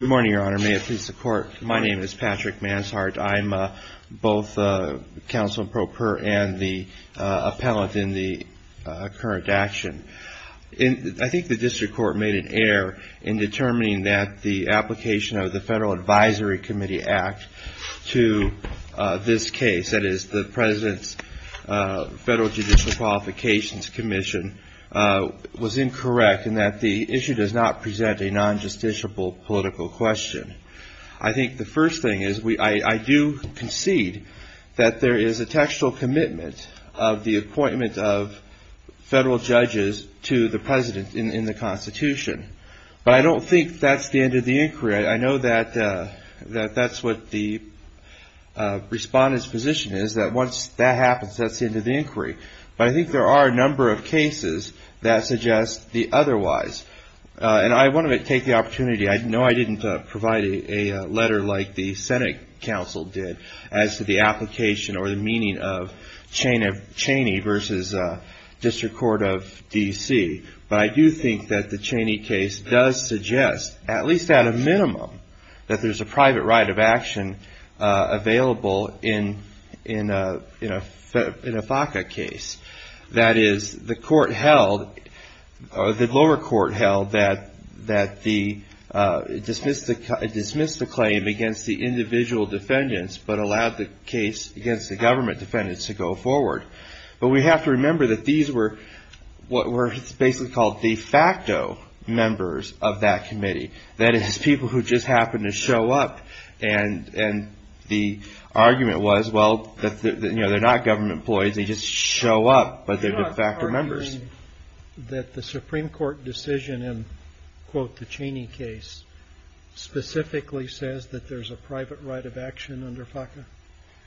Good morning, Your Honor. May it please the Court, my name is Patrick Manshardt. I'm both Counsel Pro Per and the appellate in the current action. I think the District Court made an error in determining that the application of the Federal Advisory Committee Act to this case, that is, the President's Federal Judicial Qualifications Commission, was incorrect in that the issue does not present a non-justiciable political question. I think the first thing is, I do concede that there is a textual commitment of the appointment of federal judges to the President in the Constitution. But I don't think that's the end of the inquiry. I know that that's what the Respondent's position is, that once that happens, that's the end of the inquiry. But I think there are a number of cases that suggest the opportunity. I know I didn't provide a letter like the Senate Counsel did as to the application or the meaning of Cheney v. District Court of D.C. But I do think that the Cheney case does suggest, at least at a minimum, that there's a private right of action available in a FACA case. That is, the lower court held that it dismissed the claim against the individual defendants but allowed the case against the government defendants to go forward. But we have to remember that these were what were basically called de facto members of that committee, that is, people who just happened to show up. And the argument was, well, they're not government employees, they just show up, but they're de facto members. You're not arguing that the Supreme Court decision in, quote, the Cheney case, specifically says that there's a private right of action under FACA?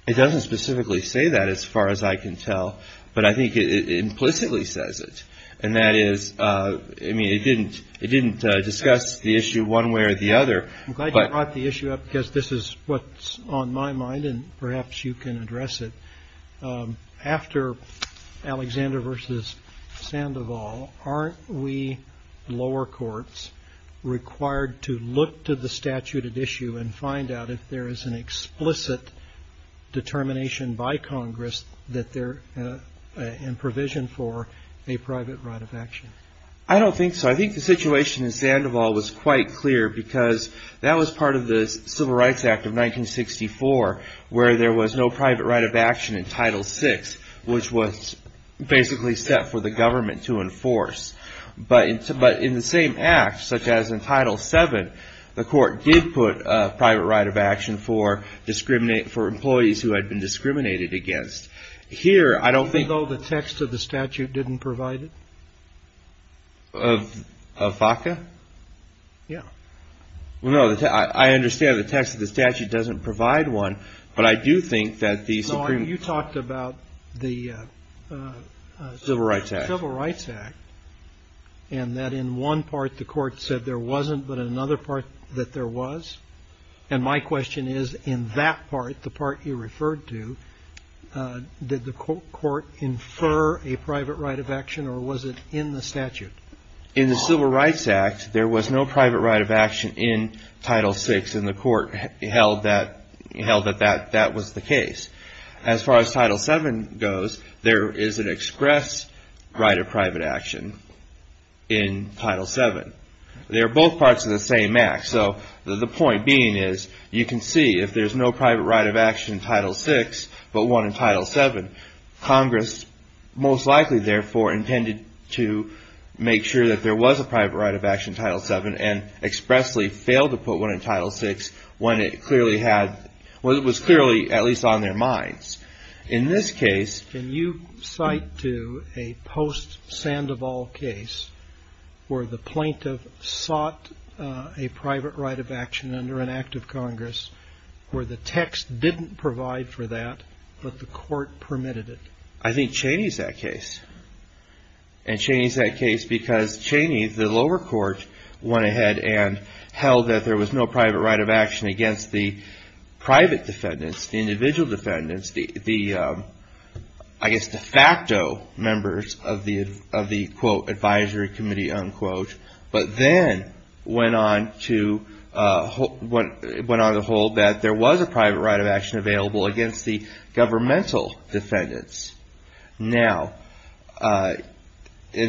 It doesn't specifically say that as far as I can tell. But I think it implicitly says it. And that is, I mean, it didn't discuss the issue one way or the other. But I brought the issue up because this is what's on my mind. And perhaps you can address it after Alexander versus Sandoval. Aren't we lower courts required to look to the statute at issue and find out if there is an explicit determination by Congress that they're in provision for a private right of action? I don't think so. I think the situation in Sandoval was quite clear because that was part of the Civil Rights Act of 1964, where there was no private right of action in Title VI, which was basically set for the government to enforce. But in the same act, such as in Title VII, the court did put a private right of action for employees who had been discriminated against. Here, I don't think... Even though the text of the statute didn't provide it? Of FACA? Yeah. No, I understand the text of the statute doesn't provide one. But I do think that the Supreme... You talked about the Civil Rights Act and that in one part the court said there wasn't, but in another part that there was. And my question is, in that part, the part you referred to, did the court infer a private right of action or was it in the statute? In the Civil Rights Act, there was no private right of action in Title VI and the court held that that was the case. As far as Title VII goes, there is an express right of private action in Title VII. They're both parts of the same act. So the point being is, you can see if there's no private right of action in Title VI, but one in Title VII, Congress most likely, therefore, intended to make sure that there was a private right of action in Title VII and expressly failed to put one in Title VI when it clearly had... Well, it was clearly at least on their minds. In this case... Can you cite to a post-Sandoval case where the plaintiff sought a private right of action under an act of Congress where the text didn't provide for that, but the court permitted it? I think Cheney's that case. And Cheney's that case because Cheney, the lower court, went ahead and held that there was no private right of action against the private defendants, the individual defendants, the, I guess, de facto members of the, quote, advisory committee, unquote. But then went on to hold that there was a private right of action available against the governmental defendants. Now, the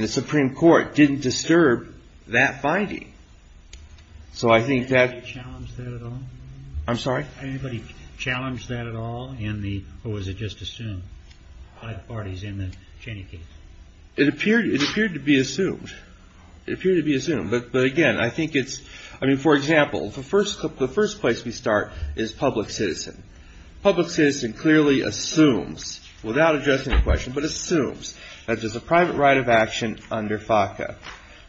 Supreme Court didn't disturb that finding. So I think that... Was anybody challenged there at all? I'm sorry? Anybody challenged that at all in the, or was it just assumed by parties in the Cheney case? It appeared to be assumed. It appeared to be assumed. But again, I think it's... I mean, for example, the first place we start is public citizen. Public citizen clearly assumes, without addressing the question, but assumes that there's a private right of action under FACA.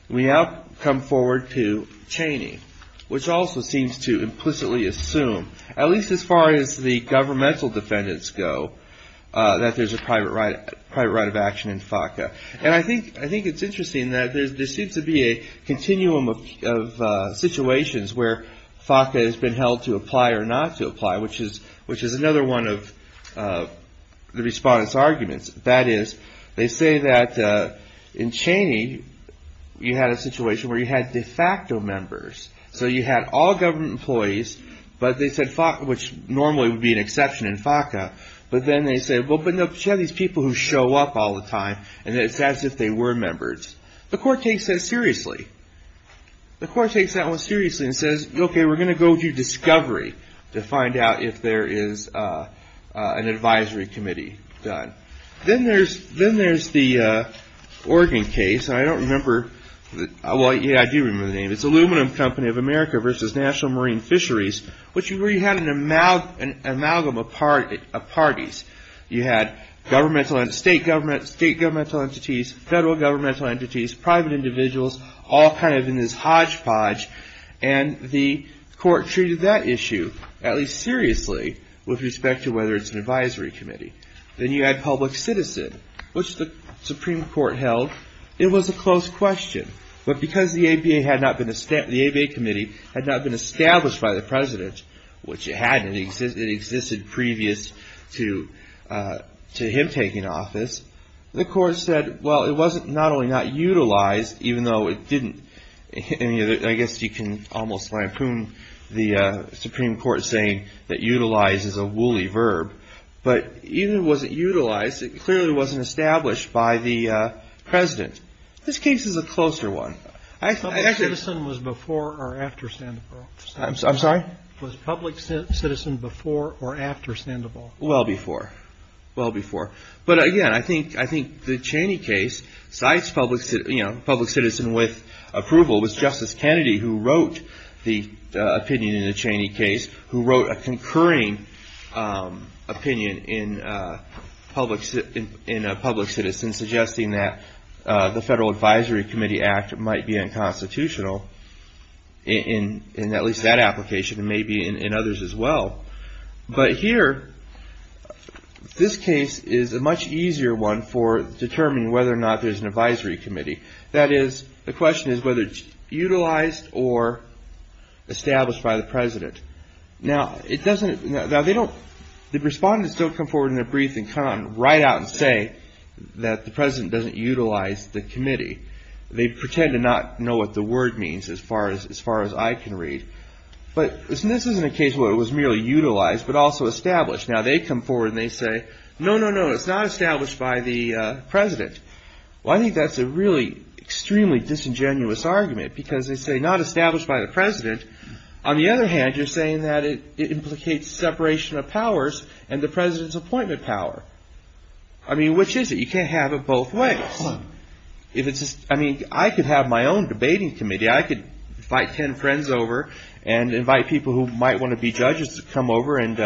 We now come forward to Cheney, which also seems to implicitly assume, at least as far as the governmental defendants go, that there's a private right of action in FACA. And I think it's interesting that there seems to be a continuum of situations where FACA has been held to apply or not to apply, which is another one of the respondents' arguments. That is, they say that in Cheney, you had a situation where you had de facto members. So you had all government employees, but they said FACA, which normally would be an exception in FACA. But then they said, well, but you have these people who show up all the time, and it's as if they were members. The court takes that seriously. The court takes that one seriously and says, okay, we're going to go do discovery to find out if there is an advisory committee done. Then there's the Oregon case. I don't remember. Well, yeah, I do remember the name. It's Aluminum Company of America versus National Marine Fisheries, which is where you had an amalgam of parties. You had state governmental entities, federal governmental entities, private individuals, all kind of in this hodgepodge. And the court treated that issue, at least seriously, with respect to whether it's an advisory committee. Then you had public citizen, which the Supreme Court held it was a close question. But because the ABA committee had not been established by the president, which it hadn't, it existed previous to him taking office, the court said, well, it wasn't not only not utilized, even though it didn't. I guess you can almost lampoon the Supreme Court saying that utilize is a woolly verb. But even if it wasn't utilized, it clearly wasn't established by the president. This case is a closer one. Public citizen was before or after Sandoval? I'm sorry? Was public citizen before or after Sandoval? Well before. Well before. But again, I think the Cheney case cites public citizen with approval. It was Justice Kennedy who wrote the opinion in the Cheney case, who wrote a concurring opinion in a public citizen, suggesting that the Federal Advisory Committee Act might be unconstitutional in at least that application and maybe in others as well. But here, this case is a much easier one for determining whether or not there's an advisory committee. That is, the question is whether it's utilized or established by the president. Now, the respondents don't come forward in their brief and come on right out and say that the president doesn't utilize the committee. They pretend to not know what the word means as far as I can read. But this isn't a case where it was merely utilized but also established. Now they come forward and they say, no, no, no, it's not established by the president. Well, I think that's a really extremely disingenuous argument because they say not established by the president. On the other hand, you're saying that it implicates separation of powers and the president's appointment power. I mean, which is it? You can't have it both ways. If it's just, I mean, I could have my own debating committee. I could invite 10 friends over and invite people who might want to be judges to come over and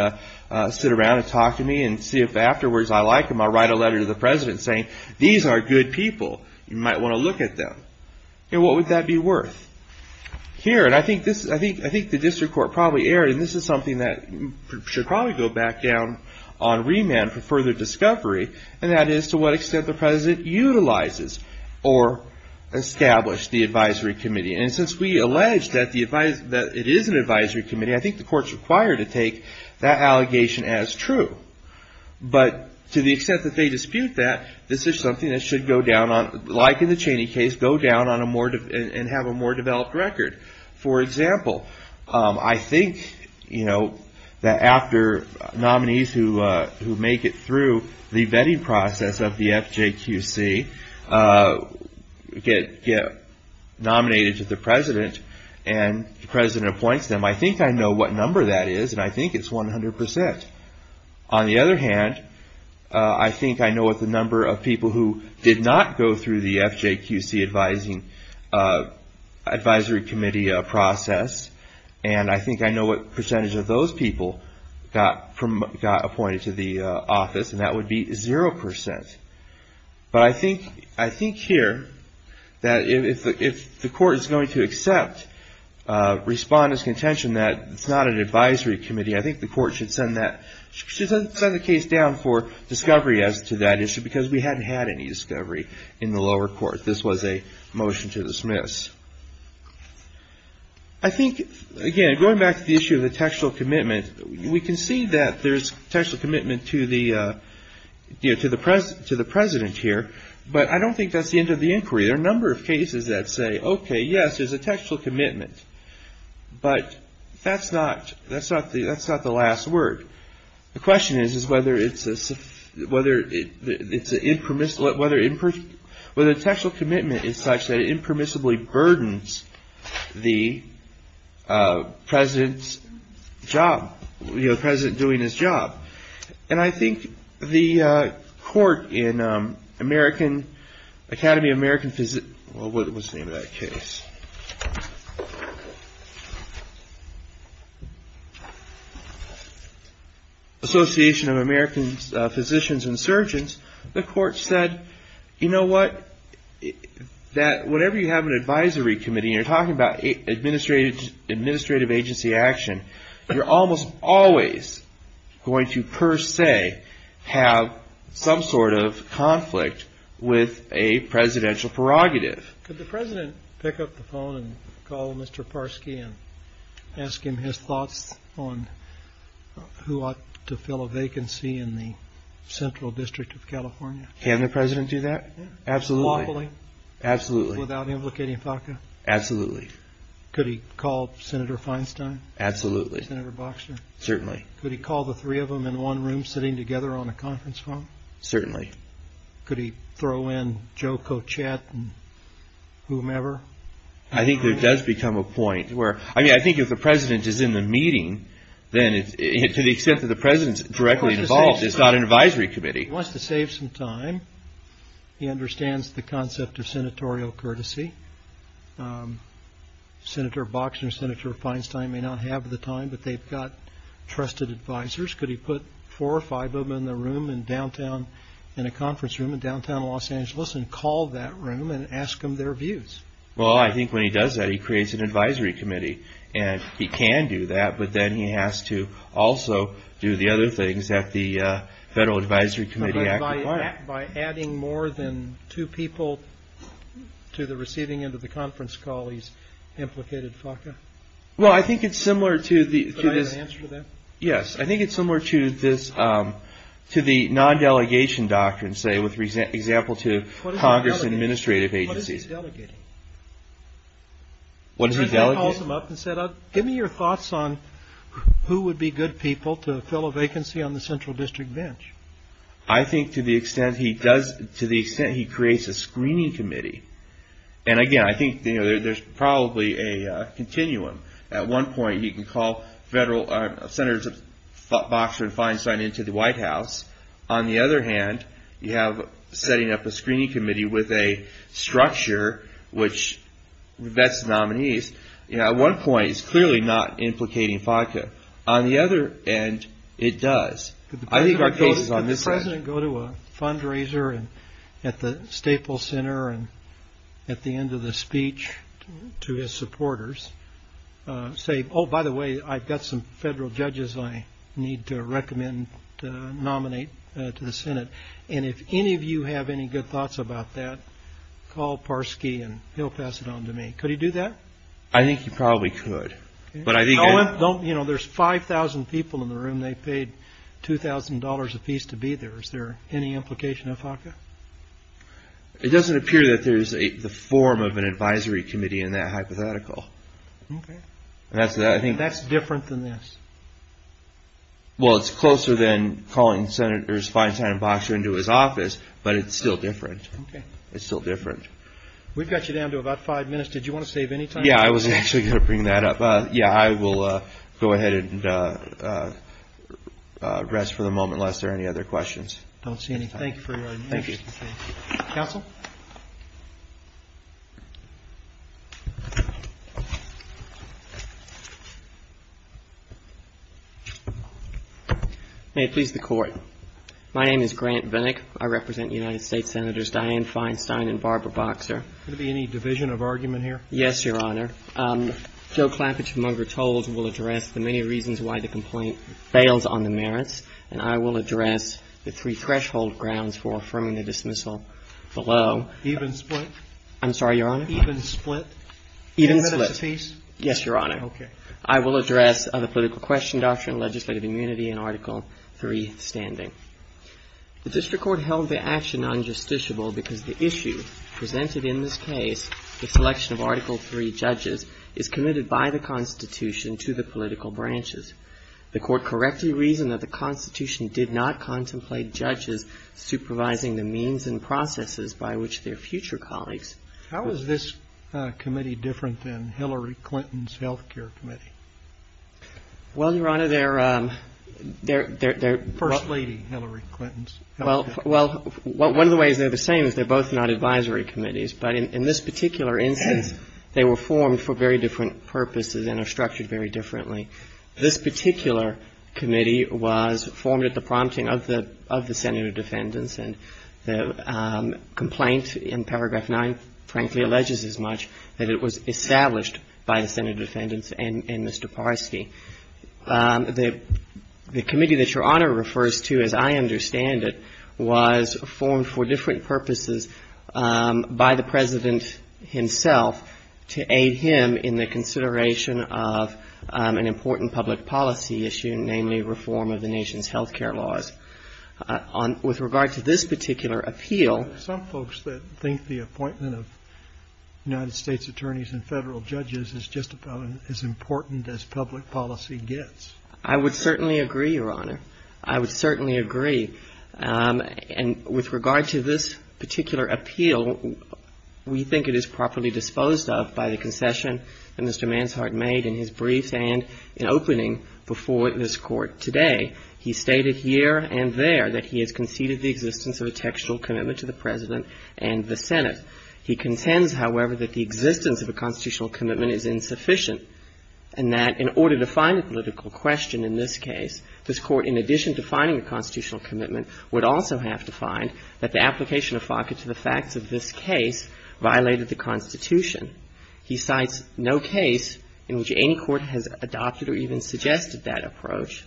sit around and talk to me and see if afterwards I like them. I'll write a letter to the president saying, these are good people. You might want to look at them. What would that be worth? Here, and I think the district court probably erred, and this is something that should probably go back down on remand for further discovery. And that is to what extent the president utilizes or established the advisory committee. And since we allege that it is an advisory committee, I think the court's required to take that allegation as true. But to the extent that they dispute that, this is something that should go down on, like in the Cheney case, go down and have a more developed record. For example, I think that after nominees who make it through the vetting process of the FJQC get nominated to the president and the president appoints them, I think I know what number that is, and I think it's 100%. On the other hand, I think I know what the number of people who did not go through the FJQC advisory committee process, and I think I know what percentage of those people got appointed to the office, and that would be 0%. But I think here that if the court is going to accept respondent's contention that it's not an advisory committee, I think the court should send the case down for discovery as to that issue, because we hadn't had any discovery in the lower court. This was a motion to dismiss. I think, again, going back to the issue of the textual commitment, we can see that there's textual commitment to the president here, but I don't think that's the end of the inquiry. There are a number of cases that say, OK, yes, there's a textual commitment, but that's not the last word. The question is whether the textual commitment is such that it impermissibly burdens the president's job, the president doing his job. And I think the court in Academy of American Physicians Association of American Physicians and Surgeons, the court said, you know what, that whenever you have an advisory committee and you're talking about administrative agency action, you're almost always going to, per se, have some sort of conflict with a presidential prerogative. Could the president pick up the phone and call Mr. Parski and ask him his thoughts on who ought to fill a vacancy in the Central District of California? Can the president do that? Absolutely. Absolutely. Without implicating FACA? Absolutely. Could he call Senator Feinstein? Absolutely. Senator Boxner? Certainly. Could he call the three of them in one room sitting together on a conference phone? Certainly. Could he throw in Joe Kochet and whomever? I think there does become a point where, I mean, I think if the president is in the meeting, then to the extent that the president's directly involved, it's not an advisory committee. He wants to save some time. He understands the concept of senatorial courtesy. Senator Boxner, Senator Feinstein may not have the time, but they've got trusted advisors. Could he put four or five of them in a conference room in downtown Los Angeles and call that room and ask them their views? Well, I think when he does that, he creates an advisory committee. And he can do that, but then he has to also do the other things that the Federal Advisory Committee act requires. By adding more than two people to the receiving end of the conference call, he's implicated FACA? Well, I think it's similar to the non-delegation doctrine, say, with example to Congress and administrative agencies. What is he delegating? What is he delegating? He calls them up and says, give me your thoughts on who would be good people to fill a vacancy on the central district bench. I think to the extent he does, to the extent he creates a screening committee, and again, I think there's probably a continuum. At one point, you can call senators Boxner and Feinstein into the White House. On the other hand, you have setting up a screening committee with a structure, which vets nominees. At one point, it's clearly not implicating FACA. On the other end, it does. Could the president go to a fundraiser at the Staples Center and at the end of the speech to his supporters, say, oh, by the way, I've got some federal judges I need to recommend to nominate to the Senate, and if any of you have any good thoughts about that, call Parsky and he'll pass it on to me. Could he do that? I think he probably could. There's 5,000 people in the room. They paid $2,000 apiece to be there. Is there any implication of FACA? It doesn't appear that there's the form of an advisory committee in that hypothetical. That's different than this. Well, it's closer than calling senators Feinstein and Boxner into his office, but it's still different. It's still different. We've got you down to about five minutes. Did you want to save any time? Yeah, I was actually going to bring that up. Yeah, I will go ahead and rest for the moment, unless there are any other questions. Don't see any. Thank you for your time. Thank you. Counsel? May it please the Court. My name is Grant Vinnick. I represent United States Senators Dianne Feinstein and Barbara Boxer. Could there be any division of argument here? Yes, Your Honor. Joe Clappidge from Unger Tolls will address the many reasons why the complaint fails on the merits, and I will address the three threshold grounds for affirming the dismissal below. Even split? I'm sorry, Your Honor? Even split? Even split. In minutes apiece? Yes, Your Honor. Okay. I will address the political question doctrine, legislative immunity, and Article III standing. The district court held the action unjusticiable because the issue presented in this case, the selection of Article III judges, is committed by the Constitution to the political branches. The court correctly reasoned that the Constitution did not contemplate judges supervising the means and processes by which their future colleagues. How is this committee different than Hillary Clinton's health care committee? Well, Your Honor, they're, they're, they're, they're. First lady, Hillary Clinton's health care committee. Well, one of the ways they're the same is they're both not advisory committees, but in, in this particular instance, they were formed for very different purposes and are structured very differently. This particular committee was formed at the prompting of the, of the Senate of Defendants, and the complaint in paragraph 9, frankly, alleges as much that it was established by the Senate of Defendants and, and Mr. Parski. The, the committee that Your Honor refers to, as I understand it, was formed for different purposes by the President himself to aid him in the consideration of an important public policy issue, namely reform of the nation's health care laws. On, with regard to this particular appeal. Some folks that think the appointment of United States attorneys and federal judges is just about as important as public policy gets. I would certainly agree, Your Honor. I would certainly agree. And with regard to this particular appeal, we think it is properly disposed of by the concession that Mr. Manshard made in his briefs and in opening before this Court today. He stated here and there that he has conceded the existence of a textual commitment to the President and the Senate. He contends, however, that the existence of a constitutional commitment is insufficient and that in order to find a political question in this case, this Court, in addition to finding a constitutional commitment, would also have to find that the application of FACA to the facts of this case violated the Constitution. He cites no case in which any court has adopted or even suggested that approach.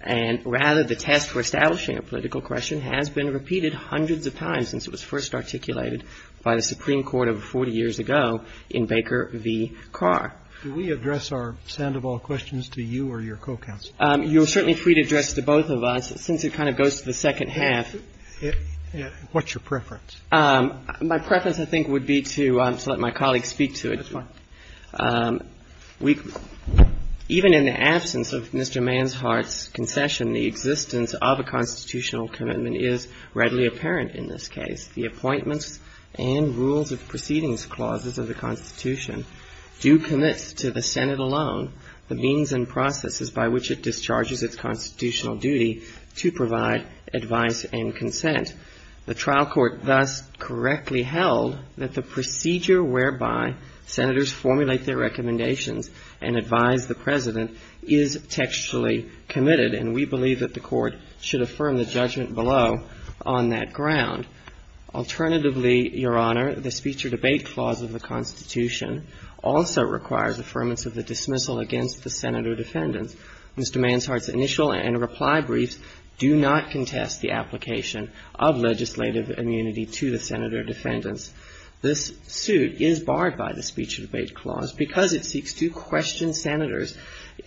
And rather, the test for establishing a political question has been repeated hundreds of times since it was first articulated by the Supreme Court over 40 years ago in Baker v. Carr. Do we address our sound of all questions to you or your co-counsel? You are certainly free to address to both of us, since it kind of goes to the second half. What's your preference? My preference, I think, would be to let my colleague speak to it. That's fine. Even in the absence of Mr. Manshard's concession, the existence of a constitutional commitment is readily apparent in this case. The appointments and rules of proceedings clauses of the Constitution do commit to the Senate alone the means and processes by which it discharges its constitutional duty to provide advice and consent. The trial court thus correctly held that the procedure whereby senators formulate their recommendations and advise the President is textually committed. And we believe that the Court should affirm the judgment below on that ground. Alternatively, Your Honor, the speech or debate clause of the Constitution also requires affirmance of the dismissal against the Senator defendants. Mr. Manshard's initial and reply briefs do not contest the application of legislative immunity to the Senator defendants. This suit is barred by the speech or debate clause because it seeks to question senators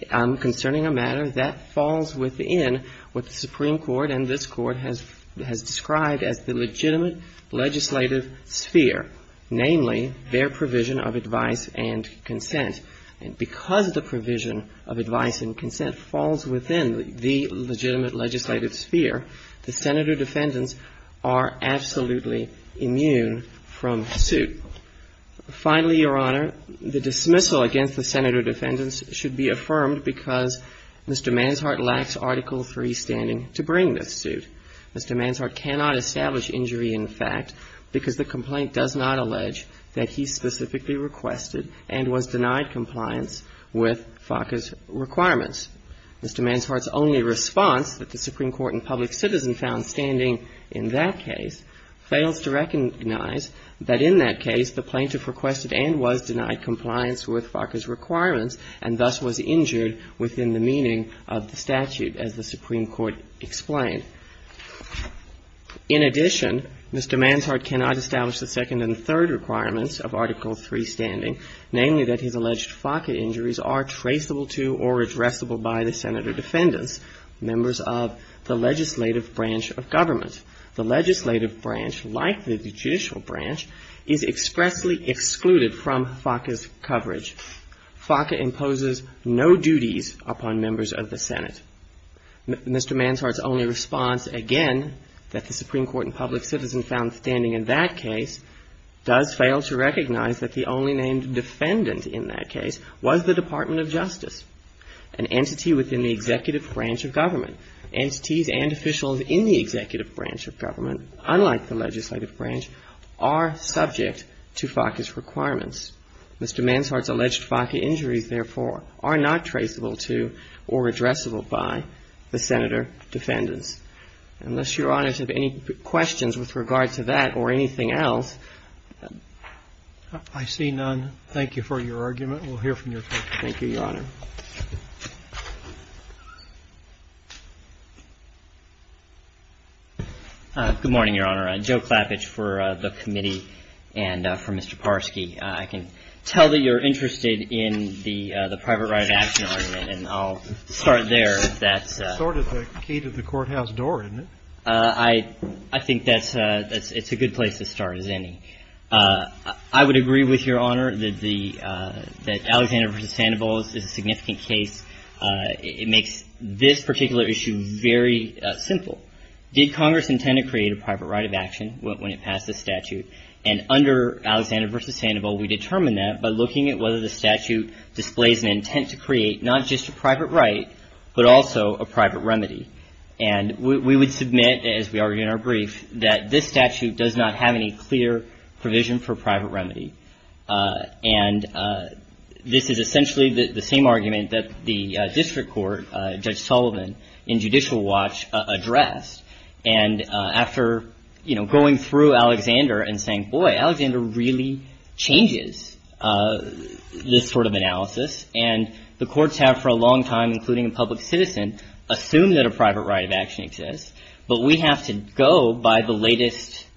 concerning a matter that falls within what the Supreme Court and this Court has described as the legitimate legislative sphere, namely their provision of advice and consent. And because the provision of advice and consent falls within the legitimate legislative sphere, the Senator defendants are absolutely immune from suit. Finally, Your Honor, the dismissal against the Senator defendants should be affirmed because Mr. Manshard lacks Article III standing to bring this suit. Mr. Manshard cannot establish injury in fact because the complaint does not allege that he specifically requested and was denied compliance with FACA's requirements. Mr. Manshard's only response that the Supreme Court and public citizen found standing in that case fails to recognize that in that case the plaintiff requested and was denied compliance with FACA's requirements and thus was injured within the meaning of the statute as the Supreme Court explained. In addition, Mr. Manshard cannot establish the second and third requirements of Article III standing, namely that his alleged FACA injuries are traceable to or addressable by the Senator defendants, members of the legislative branch of government. The legislative branch, like the judicial branch, is expressly excluded from FACA's coverage. FACA imposes no duties upon members of the Senate. Mr. Manshard's only response, again, that the Supreme Court and public citizen found standing in that case does fail to recognize that the only named defendant in that case was the Department of Justice, an entity within the executive branch of government. Entities and officials in the executive branch of government, unlike the legislative branch, are subject to FACA's requirements. Mr. Manshard's alleged FACA injuries, therefore, are not traceable to or addressable by the Senator defendants. Unless Your Honor has any questions with regard to that or anything else. I see none. Thank you for your argument. We'll hear from you. Thank you, Your Honor. Good morning, Your Honor. Joe Klappich for the committee and for Mr. Parsky. I can tell that you're interested in the private right of action argument, and I'll start there. That's sort of the key to the courthouse door, isn't it? I think that's a good place to start, as any. I would agree with Your Honor that Alexander v. Sandoval is a significant case. It makes this particular issue very simple. Did Congress intend to create a private right of action when it passed the statute? And under Alexander v. Sandoval, we determined that by looking at whether the statute displays an intent to create not just a private right, but also a private remedy. And we would submit, as we argued in our brief, that this statute does not have any clear provision for private remedy. And this is essentially the same argument that the district court, Judge Sullivan, in Judicial Watch addressed. And after going through Alexander and saying, boy, Alexander really changes this sort of thing, the courts have for a long time, including a public citizen, assumed that a private right of action exists. But we have to go by the latest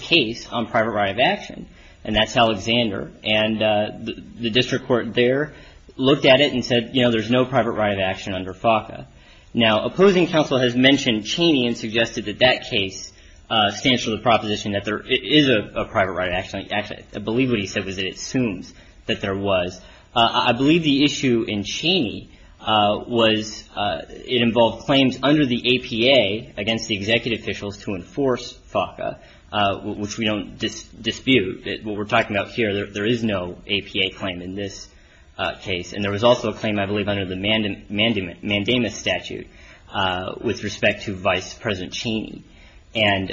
case on private right of action, and that's Alexander. And the district court there looked at it and said, you know, there's no private right of action under FACA. Now, opposing counsel has mentioned Cheney and suggested that that case stands for the proposition that there is a private right of action. Actually, I believe what he said was that it assumes that there was. I believe the issue in Cheney was it involved claims under the APA against the executive officials to enforce FACA, which we don't dispute. What we're talking about here, there is no APA claim in this case. And there was also a claim, I believe, under the Mandamus statute with respect to Vice President Cheney. And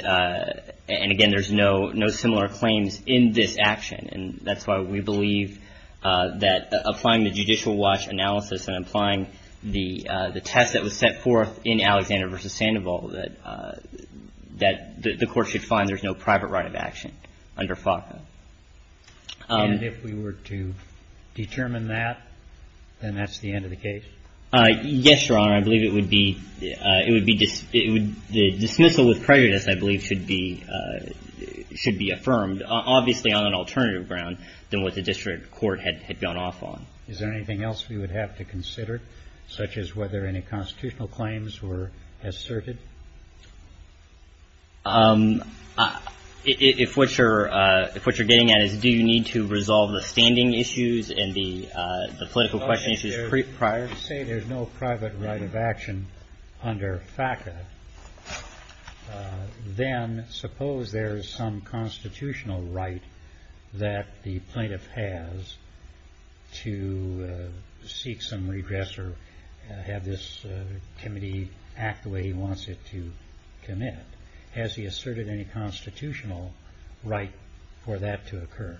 again, there's no similar claims in this action. And that's why we believe that applying the judicial watch analysis and applying the test that was set forth in Alexander v. Sandoval, that the court should find there's no private right of action under FACA. And if we were to determine that, then that's the end of the case? Yes, Your Honor. I believe it would be, it would be, the dismissal with prejudice, I believe, should be should be affirmed, obviously on an alternative ground than what the district court had gone off on. Is there anything else we would have to consider, such as whether any constitutional claims were asserted? If what you're getting at is do you need to resolve the standing issues and the political question issues prior. Say there's no private right of action under FACA, then suppose there is some constitutional right that the plaintiff has to seek some redress or have this committee act the way he wants it to commit. Has he asserted any constitutional right for that to occur?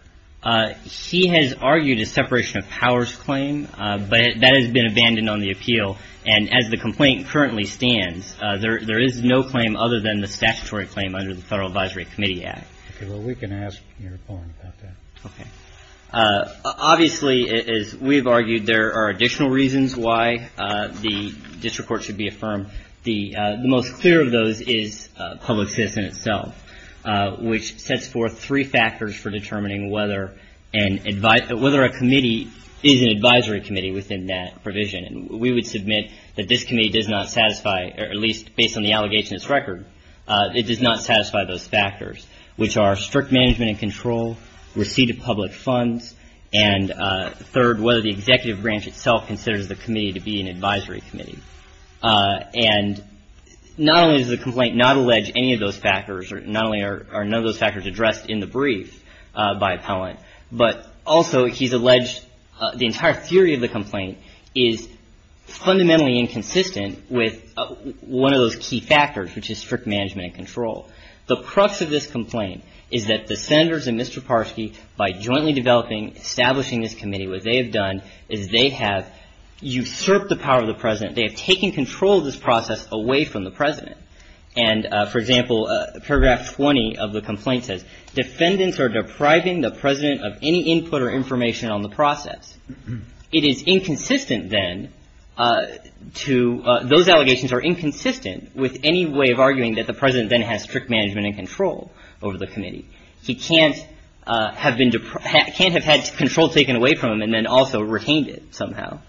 He has argued a separation of powers claim, but that has been abandoned on the appeal. And as the complaint currently stands, there is no claim other than the statutory claim under the Federal Advisory Committee Act. Well, we can ask your opponent about that. Okay. Obviously, as we've argued, there are additional reasons why the district court should be affirmed. The most clear of those is public citizen itself, which sets forth three factors for determining whether a committee is an advisory committee within that provision. And we would submit that this committee does not satisfy, at least based on the allegations record, it does not satisfy those factors, which are strict management and control, receipt of public funds, and third, whether the executive branch itself considers the committee to be an advisory committee. And not only does the complaint not allege any of those factors, not only are none of those factors addressed in the brief by appellant, but also he's alleged the entire theory of the complaint is fundamentally inconsistent with one of those key factors, which is strict management and control. The crux of this complaint is that the senators and Mr. Parsky, by jointly developing, establishing this committee, what they have done is they have usurped the power of the president. They have taken control of this process away from the president. And for example, paragraph 20 of the complaint says defendants are depriving the president of any input or information on the process. It is inconsistent then to, those allegations are inconsistent with any way of arguing that the president then has strict management and control over the committee. He can't have been, can't have had control taken away from him and then also retained it somehow.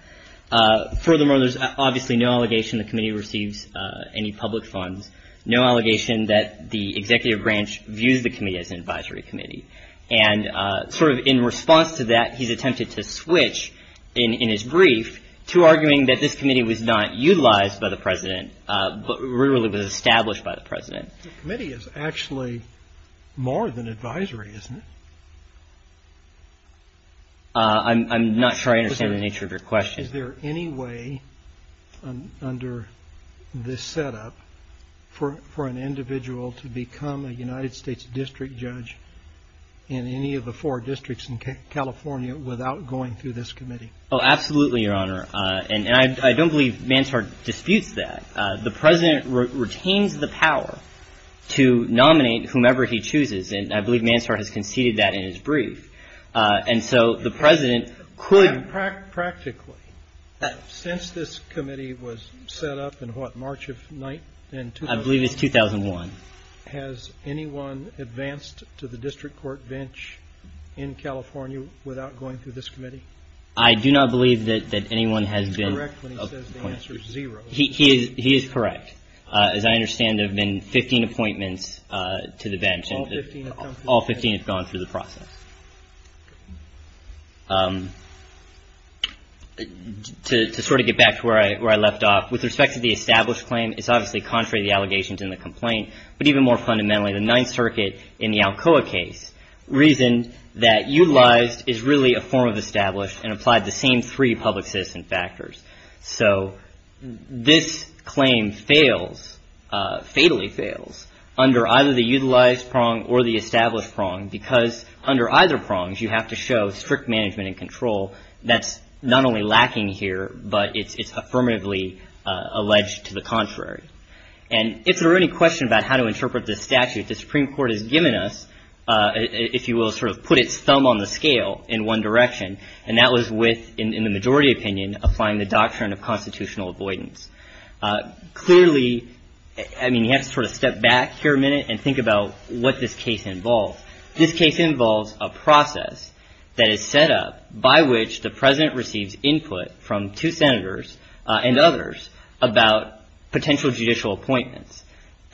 Furthermore, there's obviously no allegation the committee receives any public funds, no allegation that the executive branch views the committee as an advisory committee. And sort of in response to that, he's attempted to switch in his brief to arguing that this committee was not utilized by the president, but really was established by the president. The committee is actually more than advisory, isn't it? I'm not sure I understand the nature of your question. Is there any way under this setup for an individual to become a United States district judge in any of the four districts in California without going through this committee? Oh, absolutely, Your Honor. And I don't believe Manshard disputes that. The president retains the power to nominate whomever he chooses. And I believe Manshard has conceded that in his brief. And so the president could practically, since this committee was set up in what, March of, I believe it's 2001. Has anyone advanced to the district court bench in California without going through this committee? I do not believe that anyone has been, he is correct. As I understand, there have been 15 appointments to the bench, all 15 have gone through the process. To sort of get back to where I left off, with respect to the established claim, it's obviously contrary to the allegations in the complaint, but even more fundamentally, the Ninth Circuit in the Alcoa case reasoned that utilized is really a form of established and applied the same three public citizen factors. So this claim fails, fatally fails, under either the utilized prong or the established prong, because under either prongs, you have to show strict management and control. That's not only lacking here, but it's affirmatively alleged to the contrary. And if there are any questions about how to interpret this statute, the Supreme Court has given us, if you will, sort of put its thumb on the scale in one direction. And that was with, in the majority opinion, applying the doctrine of constitutional avoidance. Clearly, I mean, you have to sort of step back here a minute and think about what this case involves. This case involves a process that is set up by which the president receives input from two senators and others about potential judicial appointments.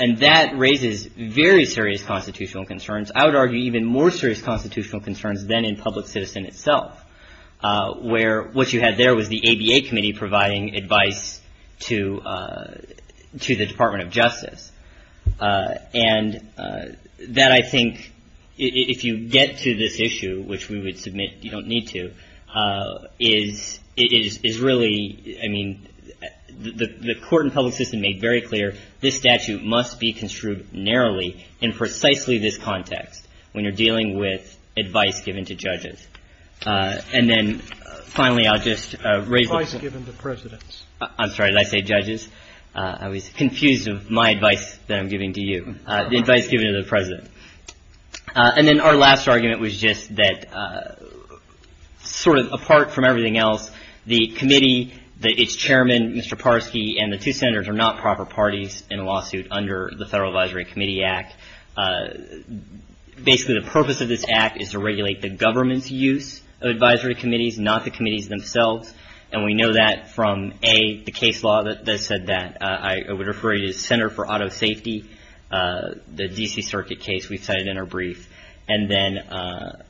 And that raises very serious constitutional concerns. I would argue even more serious constitutional concerns than in public citizen itself, where what you had there was the ABA committee providing advice to the Department of Justice, that I think if you get to this issue, which we would submit you don't need to, is really, I mean, the court and public system made very clear this statute must be construed narrowly in precisely this context when you're dealing with advice given to judges. And then finally, I'll just raise the point. Advice given to presidents. I'm sorry, did I say judges? I was confused of my advice that I'm giving to you. The advice given to the president. And then our last argument was just that sort of apart from everything else, the committee, that its chairman, Mr. Parsky, and the two senators are not proper parties in a lawsuit under the Federal Advisory Committee Act. Basically, the purpose of this act is to regulate the government's use of advisory committees, not the committees themselves. And we know that from, A, the case law that said that. I would refer you to the Center for Auto Safety, the D.C. Circuit case we've cited in our brief. And then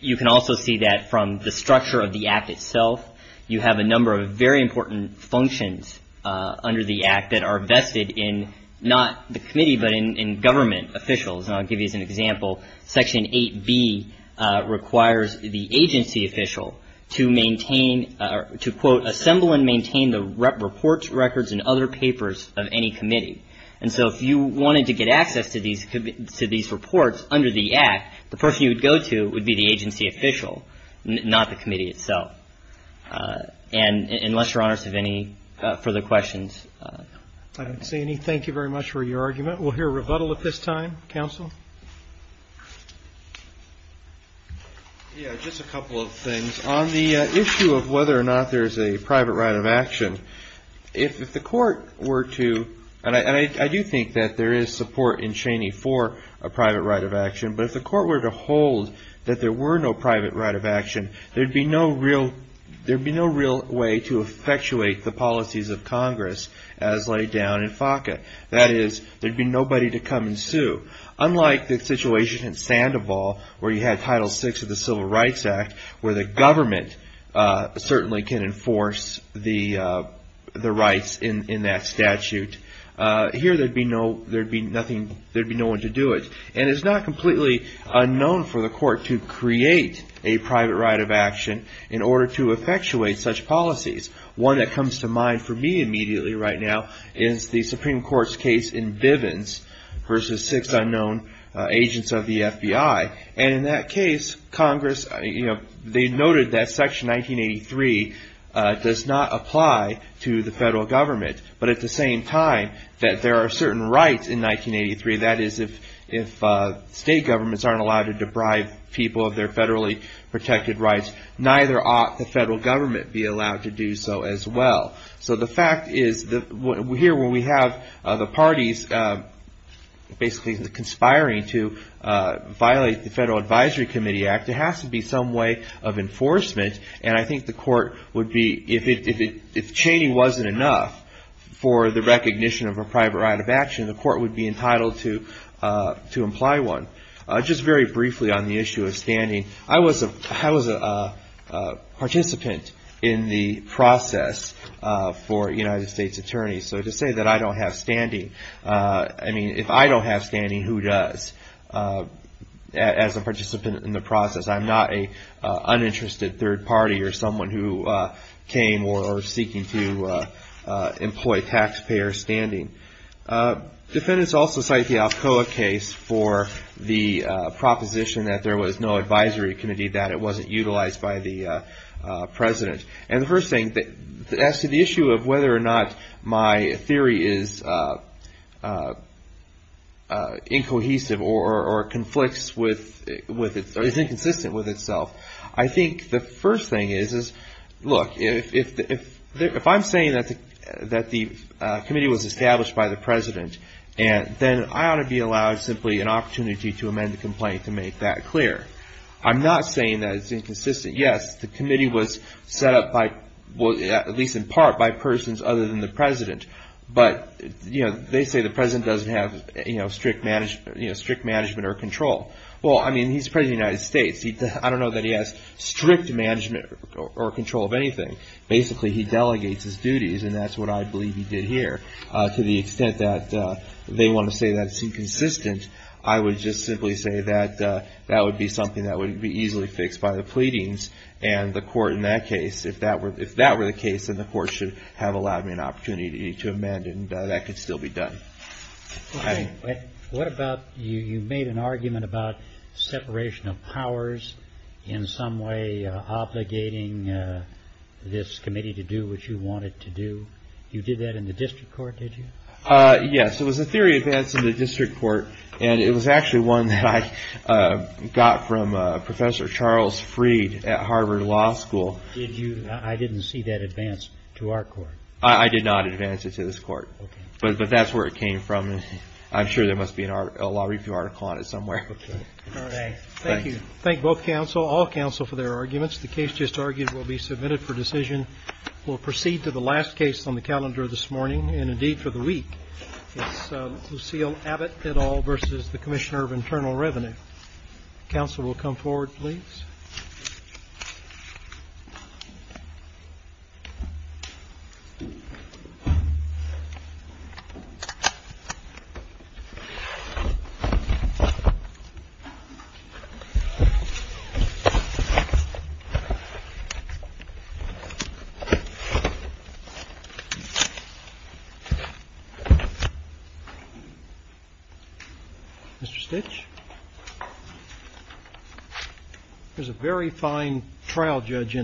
you can also see that from the structure of the act itself, you have a number of very important functions under the act that are vested in not the committee, but in government officials. And I'll give you an example. Section 8B requires the agency official to maintain or to, quote, assemble and maintain the reports, records, and other papers of any committee. And so if you wanted to get access to these reports under the act, the person you would go to would be the agency official, not the committee itself. And unless your honors have any further questions. I don't see any. Thank you very much for your argument. We'll hear a rebuttal at this time. Counsel? Yeah, just a couple of things. On the issue of whether or not there is a private right of action. If the court were to, and I do think that there is support in Cheney for a private right of action, but if the court were to hold that there were no private right of action, there'd be no real, there'd be no real way to effectuate the policies of Congress as laid down in FACA. That is, there'd be nobody to come and sue. Unlike the situation in Sandoval, where you had Title VI of the Civil Rights Act, where the government certainly can enforce the rights in that statute. Here there'd be no, there'd be nothing, there'd be no one to do it. And it's not completely unknown for the court to create a private right of action in order to effectuate such policies. One that comes to mind for me immediately right now is the Supreme Court's case in Bivens versus six unknown agents of the FBI. And in that case, Congress, you know, they noted that section 1983 does not apply to the federal government. But at the same time that there are certain rights in 1983, that is, if state governments aren't allowed to deprive people of their federally protected rights, neither ought the federal government be allowed to do so as well. So the fact is that here when we have the parties basically conspiring to violate the Federal Advisory Committee Act, there has to be some way of enforcement. And I think the court would be, if Cheney wasn't enough for the recognition of a private right of action, the court would be entitled to imply one. Just very briefly on the issue of standing, I was a participant in the process for United States attorneys. So to say that I don't have standing, I mean, if I don't have standing, who does? As a participant in the process, I'm not an uninterested third party or someone who came or seeking to employ taxpayer standing. Defendants also cite the Alcoa case for the proposition that there was no advisory committee, that it wasn't utilized by the president. And the first thing, as to the issue of whether or not my theory is incohesive or conflicts with, is inconsistent with itself, I think the first thing is, look, if I'm saying that the committee was established by the president, then I ought to be allowed simply an opportunity to amend the complaint to make that clear. I'm not saying that it's inconsistent. Yes, the committee was set up by, at least in part, by persons other than the president. But they say the president doesn't have strict management or control. Well, I mean, he's the president of the United States. I don't know that he has strict management or control of anything. Basically, he delegates his duties, and that's what I believe he did here. To the extent that they want to say that it's inconsistent, I would just simply say that that would be something that would be easily fixed by the pleading. And the court, in that case, if that were the case, then the court should have allowed me an opportunity to amend, and that could still be done. What about, you made an argument about separation of powers in some way obligating this committee to do what you wanted to do. You did that in the district court, did you? Yes, it was a theory advance in the district court. And it was actually one that I got from Professor Charles Freed at Harvard Law School. I didn't see that advance to our court. I did not advance it to this court. But that's where it came from. I'm sure there must be a law review article on it somewhere. Thank you. Thank both counsel, all counsel for their arguments. The case just argued will be submitted for decision. We'll proceed to the last case on the calendar this morning. And indeed, for the week, Lucille Abbott at all versus the Commissioner of Internal Revenue. Counsel will come forward, please. Mr. Stitch, there's a very fine trial judge in there.